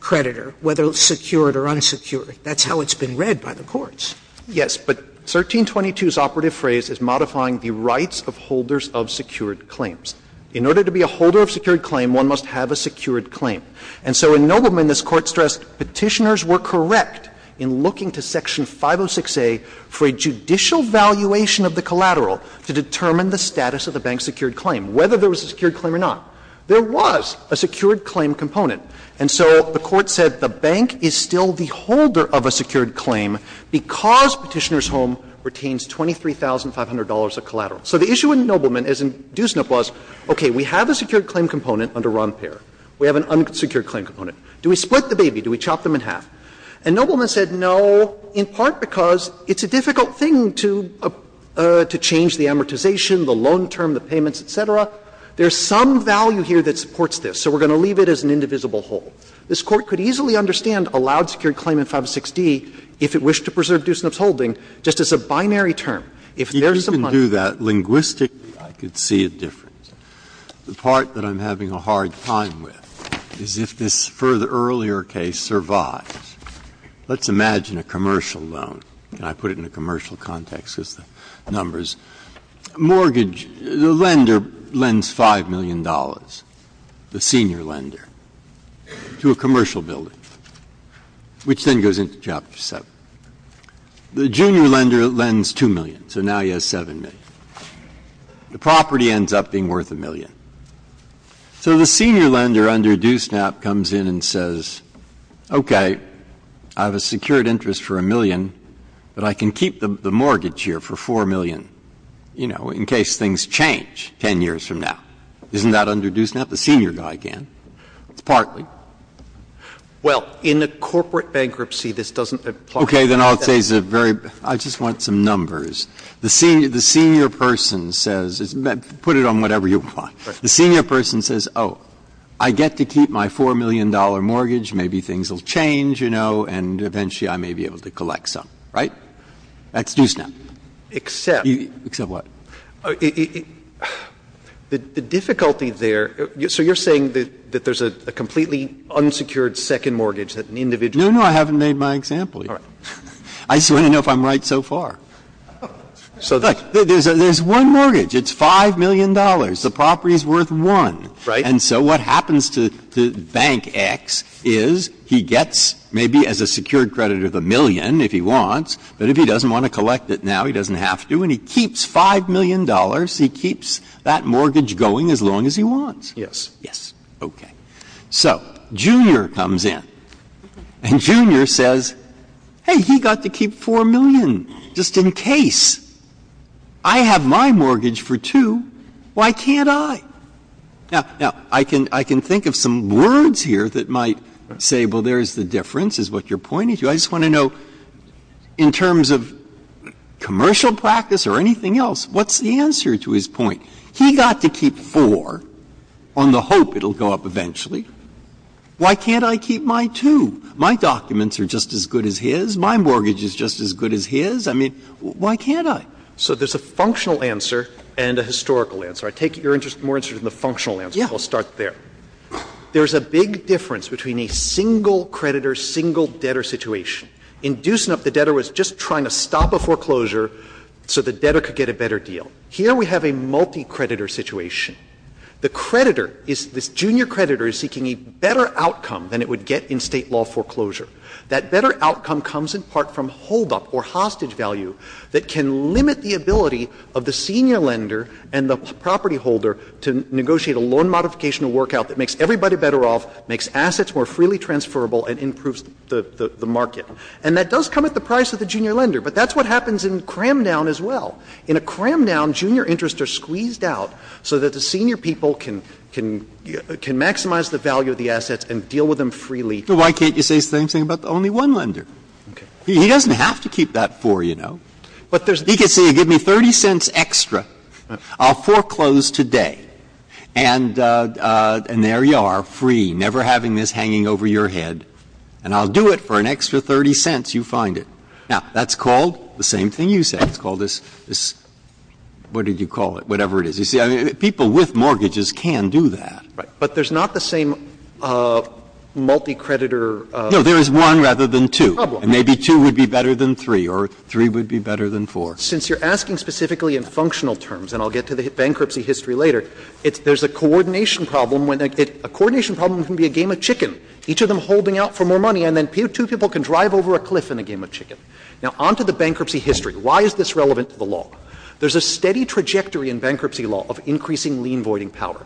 creditor, whether secured or unsecured. That's how it's been read by the courts. Yes, but 1322's operative phrase is modifying the rights of holders of secured claims. In order to be a holder of secured claim, one must have a secured claim. And so in Nobleman, this Court stressed Petitioners were correct in looking to Section 506a for a judicial valuation of the collateral to determine the status of the bank's secured claim, whether there was a secured claim or not. There was a secured claim component. And so the Court said the bank is still the holder of a secured claim because So the issue in Nobleman, as in DUSNIP, was, okay, we have a secured claim component under Ron Peer. We have an unsecured claim component. Do we split the baby? Do we chop them in half? And Nobleman said no, in part because it's a difficult thing to change the amortization, the loan term, the payments, et cetera. There's some value here that supports this, so we're going to leave it as an indivisible whole. This Court could easily understand a loud secured claim in 506d if it wished to preserve DUSNIP's holding, just as a binary term. If there's some money there. Breyer. If you can do that linguistically, I could see a difference. The part that I'm having a hard time with is if this further earlier case survives. Let's imagine a commercial loan. Can I put it in a commercial context, just the numbers? Mortgage, the lender lends $5 million, the senior lender, to a commercial building, which then goes into Chapter 7. The junior lender lends $2 million, so now he has $7 million. The property ends up being worth $1 million. So the senior lender under DUSNIP comes in and says, okay, I have a secured interest for $1 million, but I can keep the mortgage here for $4 million, you know, in case things change 10 years from now. Isn't that under DUSNIP? The senior guy can. It's partly. Well, in a corporate bankruptcy, this doesn't apply. Breyer. Okay. Then I'll say it's a very — I just want some numbers. The senior person says — put it on whatever you want. The senior person says, oh, I get to keep my $4 million mortgage, maybe things will change, you know, and eventually I may be able to collect some, right? That's DUSNIP. Except. Except what? The difficulty there — so you're saying that there's a completely different unsecured second mortgage that an individual can get? No, no. I haven't made my example yet. All right. I just want to know if I'm right so far. So there's one mortgage. It's $5 million. The property is worth $1. Right. And so what happens to Bank X is he gets maybe as a secured credit of $1 million if he wants, but if he doesn't want to collect it now, he doesn't have to. And he keeps $5 million. He keeps that mortgage going as long as he wants. Yes. Yes. Okay. So Junior comes in, and Junior says, hey, he got to keep $4 million just in case. I have my mortgage for two. Why can't I? Now, I can think of some words here that might say, well, there's the difference, is what you're pointing to. I just want to know, in terms of commercial practice or anything else, what's the answer to his point? He got to keep $4 million on the hope it will go up eventually. Why can't I keep my $2 million? My documents are just as good as his. My mortgage is just as good as his. I mean, why can't I? So there's a functional answer and a historical answer. I take your interest more in the functional answer, but I'll start there. There's a big difference between a single creditor, single debtor situation. In Deussenup, the debtor was just trying to stop a foreclosure so the debtor could get a better deal. Here we have a multi-creditor situation. The creditor is this junior creditor is seeking a better outcome than it would get in State law foreclosure. That better outcome comes in part from holdup or hostage value that can limit the ability of the senior lender and the property holder to negotiate a loan modification of work out that makes everybody better off, makes assets more freely transferable and improves the market. And that does come at the price of the junior lender, but that's what happens in Cramdown as well. In a Cramdown, junior interests are squeezed out so that the senior people can maximize the value of the assets and deal with them freely. Breyer. Why can't you say the same thing about the only one lender? He doesn't have to keep that four, you know. He could say, give me 30 cents extra, I'll foreclose today, and there you are, free, never having this hanging over your head, and I'll do it for an extra 30 cents, you find it. Now, that's called the same thing you said. It's called this, this, what did you call it, whatever it is. You see, people with mortgages can do that. Right. But there's not the same multi-creditor. No, there is one rather than two. And maybe two would be better than three, or three would be better than four. Since you're asking specifically in functional terms, and I'll get to the bankruptcy history later, there's a coordination problem when a coordination problem can be a game of chicken, each of them holding out for more money, and then two people can drive over a cliff in a game of chicken. Now, on to the bankruptcy history. Why is this relevant to the law? There's a steady trajectory in bankruptcy law of increasing lien voiding power.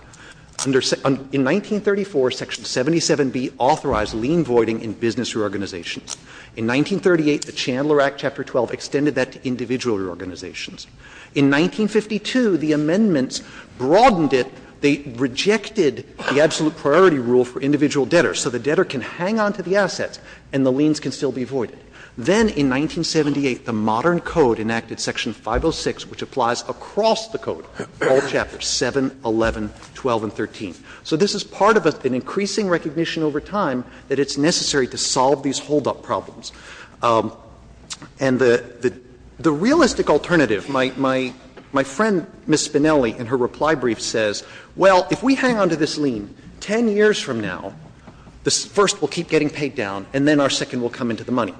In 1934, Section 77B authorized lien voiding in business reorganizations. In 1938, the Chandler Act, Chapter 12, extended that to individual reorganizations. In 1952, the amendments broadened it. They rejected the absolute priority rule for individual debtors, so the debtor can hang on to the assets and the liens can still be voided. Then in 1978, the modern Code enacted Section 506, which applies across the Code, all Chapters 7, 11, 12, and 13. So this is part of an increasing recognition over time that it's necessary to solve these holdup problems. And the realistic alternative, my friend, Ms. Spinelli, in her reply brief says, well, if we hang on to this lien, 10 years from now, the first will keep getting paid down and then our second will come into the money.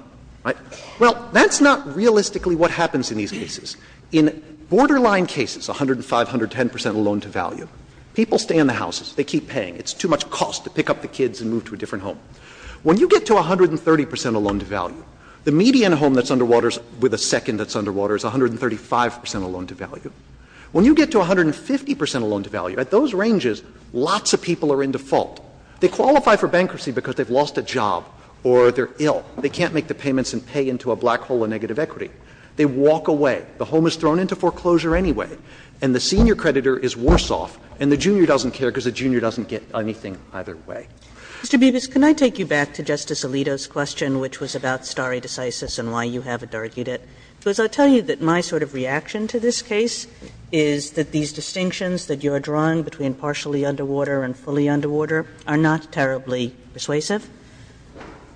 Well, that's not realistically what happens in these cases. In borderline cases, 105, 110 percent of loan-to-value, people stay in the houses. They keep paying. It's too much cost to pick up the kids and move to a different home. When you get to 130 percent of loan-to-value, the median home that's underwaters with a second that's underwater is 135 percent of loan-to-value. When you get to 150 percent of loan-to-value, at those ranges, lots of people are in default. They qualify for bankruptcy because they've lost a job or they're ill. They can't make the payments and pay into a black hole of negative equity. They walk away. The home is thrown into foreclosure anyway. And the senior creditor is worse off, and the junior doesn't care because the junior doesn't get anything either way. Kagan. Mr. Bibas, can I take you back to Justice Alito's question, which was about stare decisis and why you haven't argued it? Because I'll tell you that my sort of reaction to this case is that these distinctions that you're drawing between partially underwater and fully underwater are not terribly persuasive.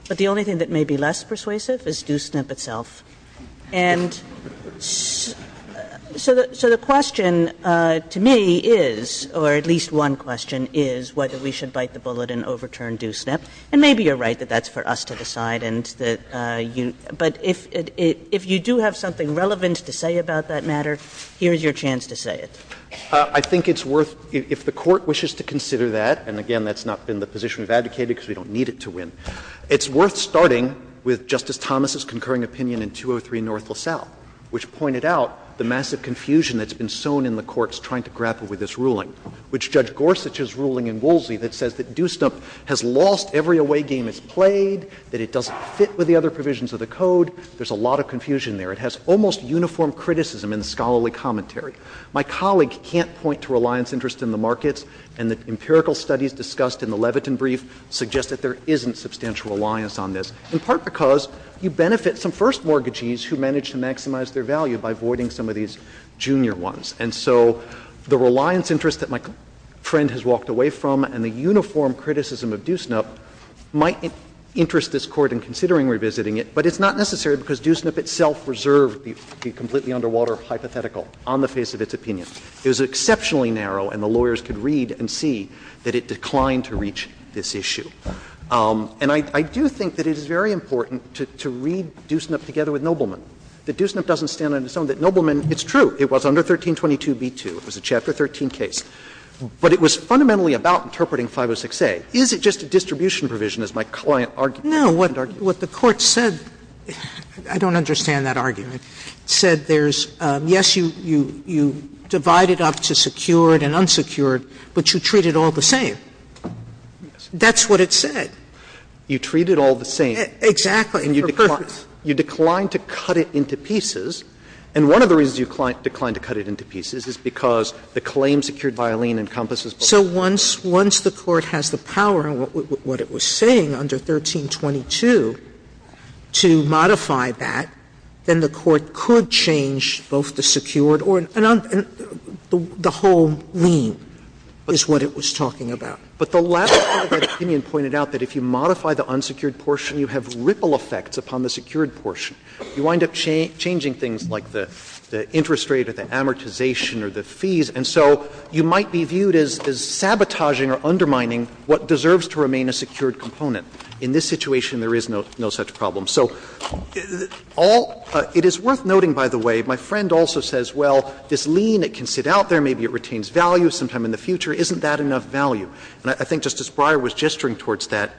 But the only thing that may be less persuasive is Doosnip itself. And so the question to me is, or at least one question, is whether we should bite the bullet and overturn Doosnip. And maybe you're right that that's for us to decide, and that you – but if you do have something relevant to say about that matter, here's your chance to say it. I think it's worth – if the Court wishes to consider that, and again, that's not been the position we've advocated because we don't need it to win, it's worth starting with Justice Thomas's concurring opinion in 203 North LaSalle, which pointed out the massive confusion that's been sown in the courts trying to grapple with this ruling, which Judge Gorsuch's ruling in Woolsey that says that Doosnip has lost every away game it's played, that it doesn't fit with the other provisions of the Code, there's a lot of confusion there. It has almost uniform criticism in the scholarly commentary. My colleague can't point to reliance interest in the markets, and the empirical studies discussed in the Levitin brief suggest that there isn't substantial reliance on this, in part because you benefit some first mortgagees who manage to maximize their value by voiding some of these junior ones. And so the reliance interest that my friend has walked away from and the uniform criticism of Doosnip might interest this Court in considering revisiting it, but it's not necessary because Doosnip itself reserved the completely underwater hypothetical on the face of its opinion. It was exceptionally narrow and the lawyers could read and see that it declined to reach this issue. And I do think that it is very important to read Doosnip together with Nobleman, that Doosnip doesn't stand on its own, that Nobleman, it's true, it was under 1322b2, it was a Chapter 13 case, but it was fundamentally about interpreting 506a. Is it just a distribution provision, as my client argued? Sotomayor, No, what the Court said, I don't understand that argument, said there's a distinction between the two. Yes, you divide it up to secured and unsecured, but you treat it all the same. That's what it said. You treat it all the same. Exactly. You decline to cut it into pieces, and one of the reasons you decline to cut it into pieces is because the claim secured by Alleen encompasses both of those. So once the Court has the power, what it was saying under 1322 to modify that, then the Court could change both the secured or the whole lien, is what it was talking about. But the last part of that opinion pointed out that if you modify the unsecured portion, you have ripple effects upon the secured portion. You wind up changing things like the interest rate or the amortization or the fees, and so you might be viewed as sabotaging or undermining what deserves to remain a secured component. In this situation, there is no such problem. So all — it is worth noting, by the way, my friend also says, well, this lien, it can sit out there, maybe it retains value sometime in the future, isn't that enough value? And I think Justice Breyer was gesturing towards that.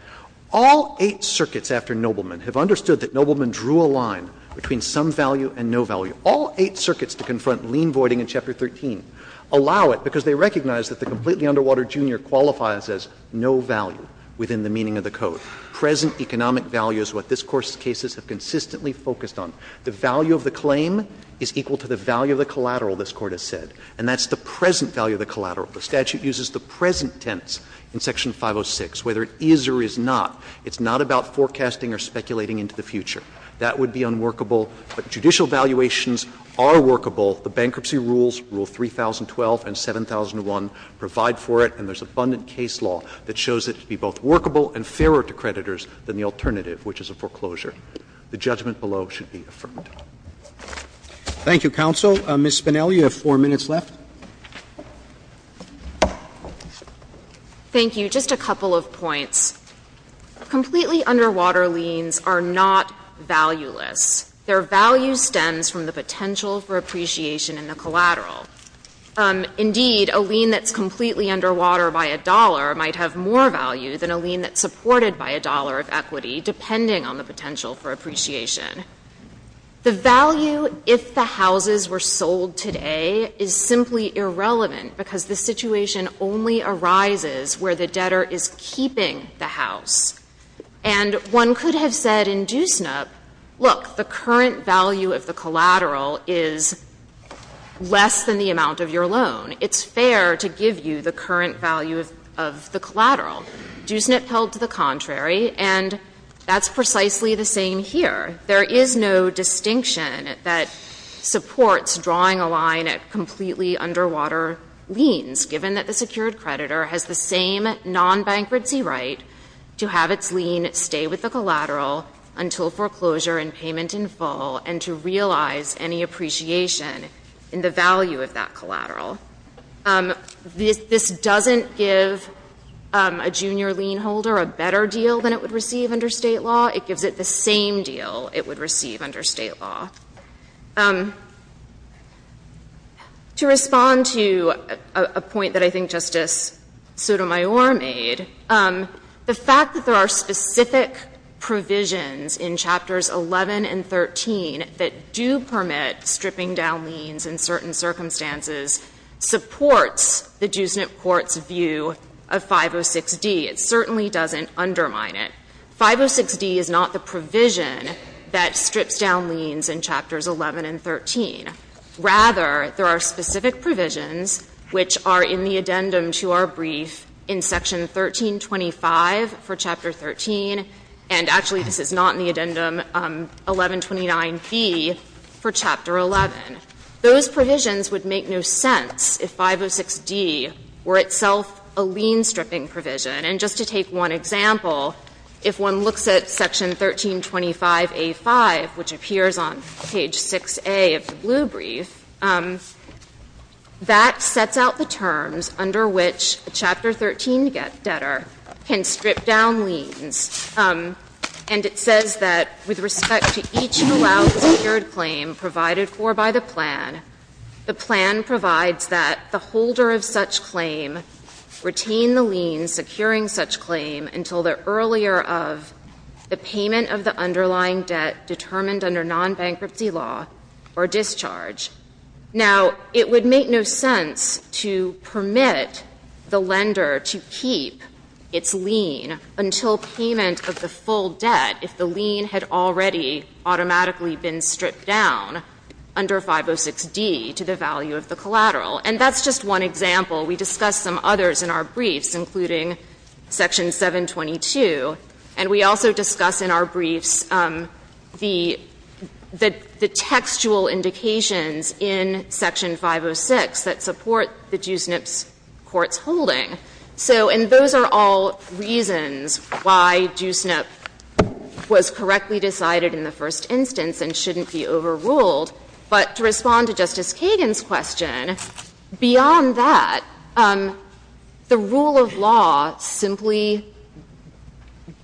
All eight circuits after Nobleman have understood that Nobleman drew a line between some value and no value. All eight circuits to confront lien voiding in Chapter 13 allow it because they recognize that the completely underwater junior qualifies as no value within the meaning of the code. Present economic value is what this Court's cases have consistently focused on. The value of the claim is equal to the value of the collateral, this Court has said. And that's the present value of the collateral. The statute uses the present tense in Section 506. Whether it is or is not, it's not about forecasting or speculating into the future. That would be unworkable. But judicial valuations are workable. The bankruptcy rules, Rule 3012 and 7001, provide for it, and there's abundant case law that shows it to be both workable and fairer to creditors than the alternative, which is a foreclosure. The judgment below should be affirmed. Roberts. Thank you, counsel. Ms. Spinelli, you have four minutes left. Thank you. Just a couple of points. Completely underwater liens are not valueless. Their value stems from the potential for appreciation in the collateral. Indeed, a lien that's completely underwater by a dollar might have more value than a lien that's supported by a dollar of equity, depending on the potential for appreciation. The value, if the houses were sold today, is simply irrelevant, because the situation only arises where the debtor is keeping the house. And one could have said in DUSNIP, look, the current value of the collateral is less than the amount of your loan. It's fair to give you the current value of the collateral. DUSNIP held to the contrary, and that's precisely the same here. There is no distinction that supports drawing a line at completely underwater liens, given that the secured creditor has the same non-bankruptcy right to have its lien stay with the collateral until foreclosure and payment in full, and to realize any appreciation in the value of that collateral. This doesn't give a junior lien holder a better deal than it would receive under state law. It gives it the same deal it would receive under state law. To respond to a point that I think Justice Sotomayor made, the fact that there are specific provisions in chapters 11 and 13 that do permit stripping down liens in certain circumstances supports the DUSNIP court's view of 506D. It certainly doesn't undermine it. 506D is not the provision that strips down liens in chapters 11 and 13. Rather, there are specific provisions which are in the addendum to our brief in section 1325 for chapter 13. And actually, this is not in the addendum 1129B for chapter 11. Those provisions would make no sense if 506D were itself a lien stripping provision. And just to take one example, if one looks at section 1325A5, which appears on page 6A of the blue brief, that sets out the terms under which a chapter 13 debtor can strip down liens. And it says that, with respect to each allowed secured claim provided for by the plan, the plan provides that the holder of such claim retain the lien securing such claim until the earlier of the payment of the underlying debt determined under non-bankruptcy law or discharge. Now, it would make no sense to permit the lender to keep its lien until payment of the full debt if the lien had already automatically been stripped down under 506D to the value of the collateral. And that's just one example. We discussed some others in our briefs, including section 722. And we also discuss in our briefs the textual indications in section 506 that support the Jusnip's court's holding. So, and those are all reasons why Jusnip was correctly decided in the first instance and shouldn't be overruled, but to respond to Justice Kagan's question, beyond that, the rule of law simply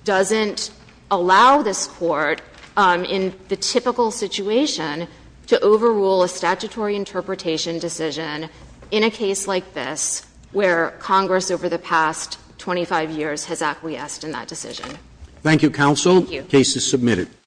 doesn't allow this court in the typical situation to overrule a statutory interpretation decision in a case like this, where Congress over the past 25 years has acquiesced in that decision. Thank you, counsel. Thank you. Case is submitted.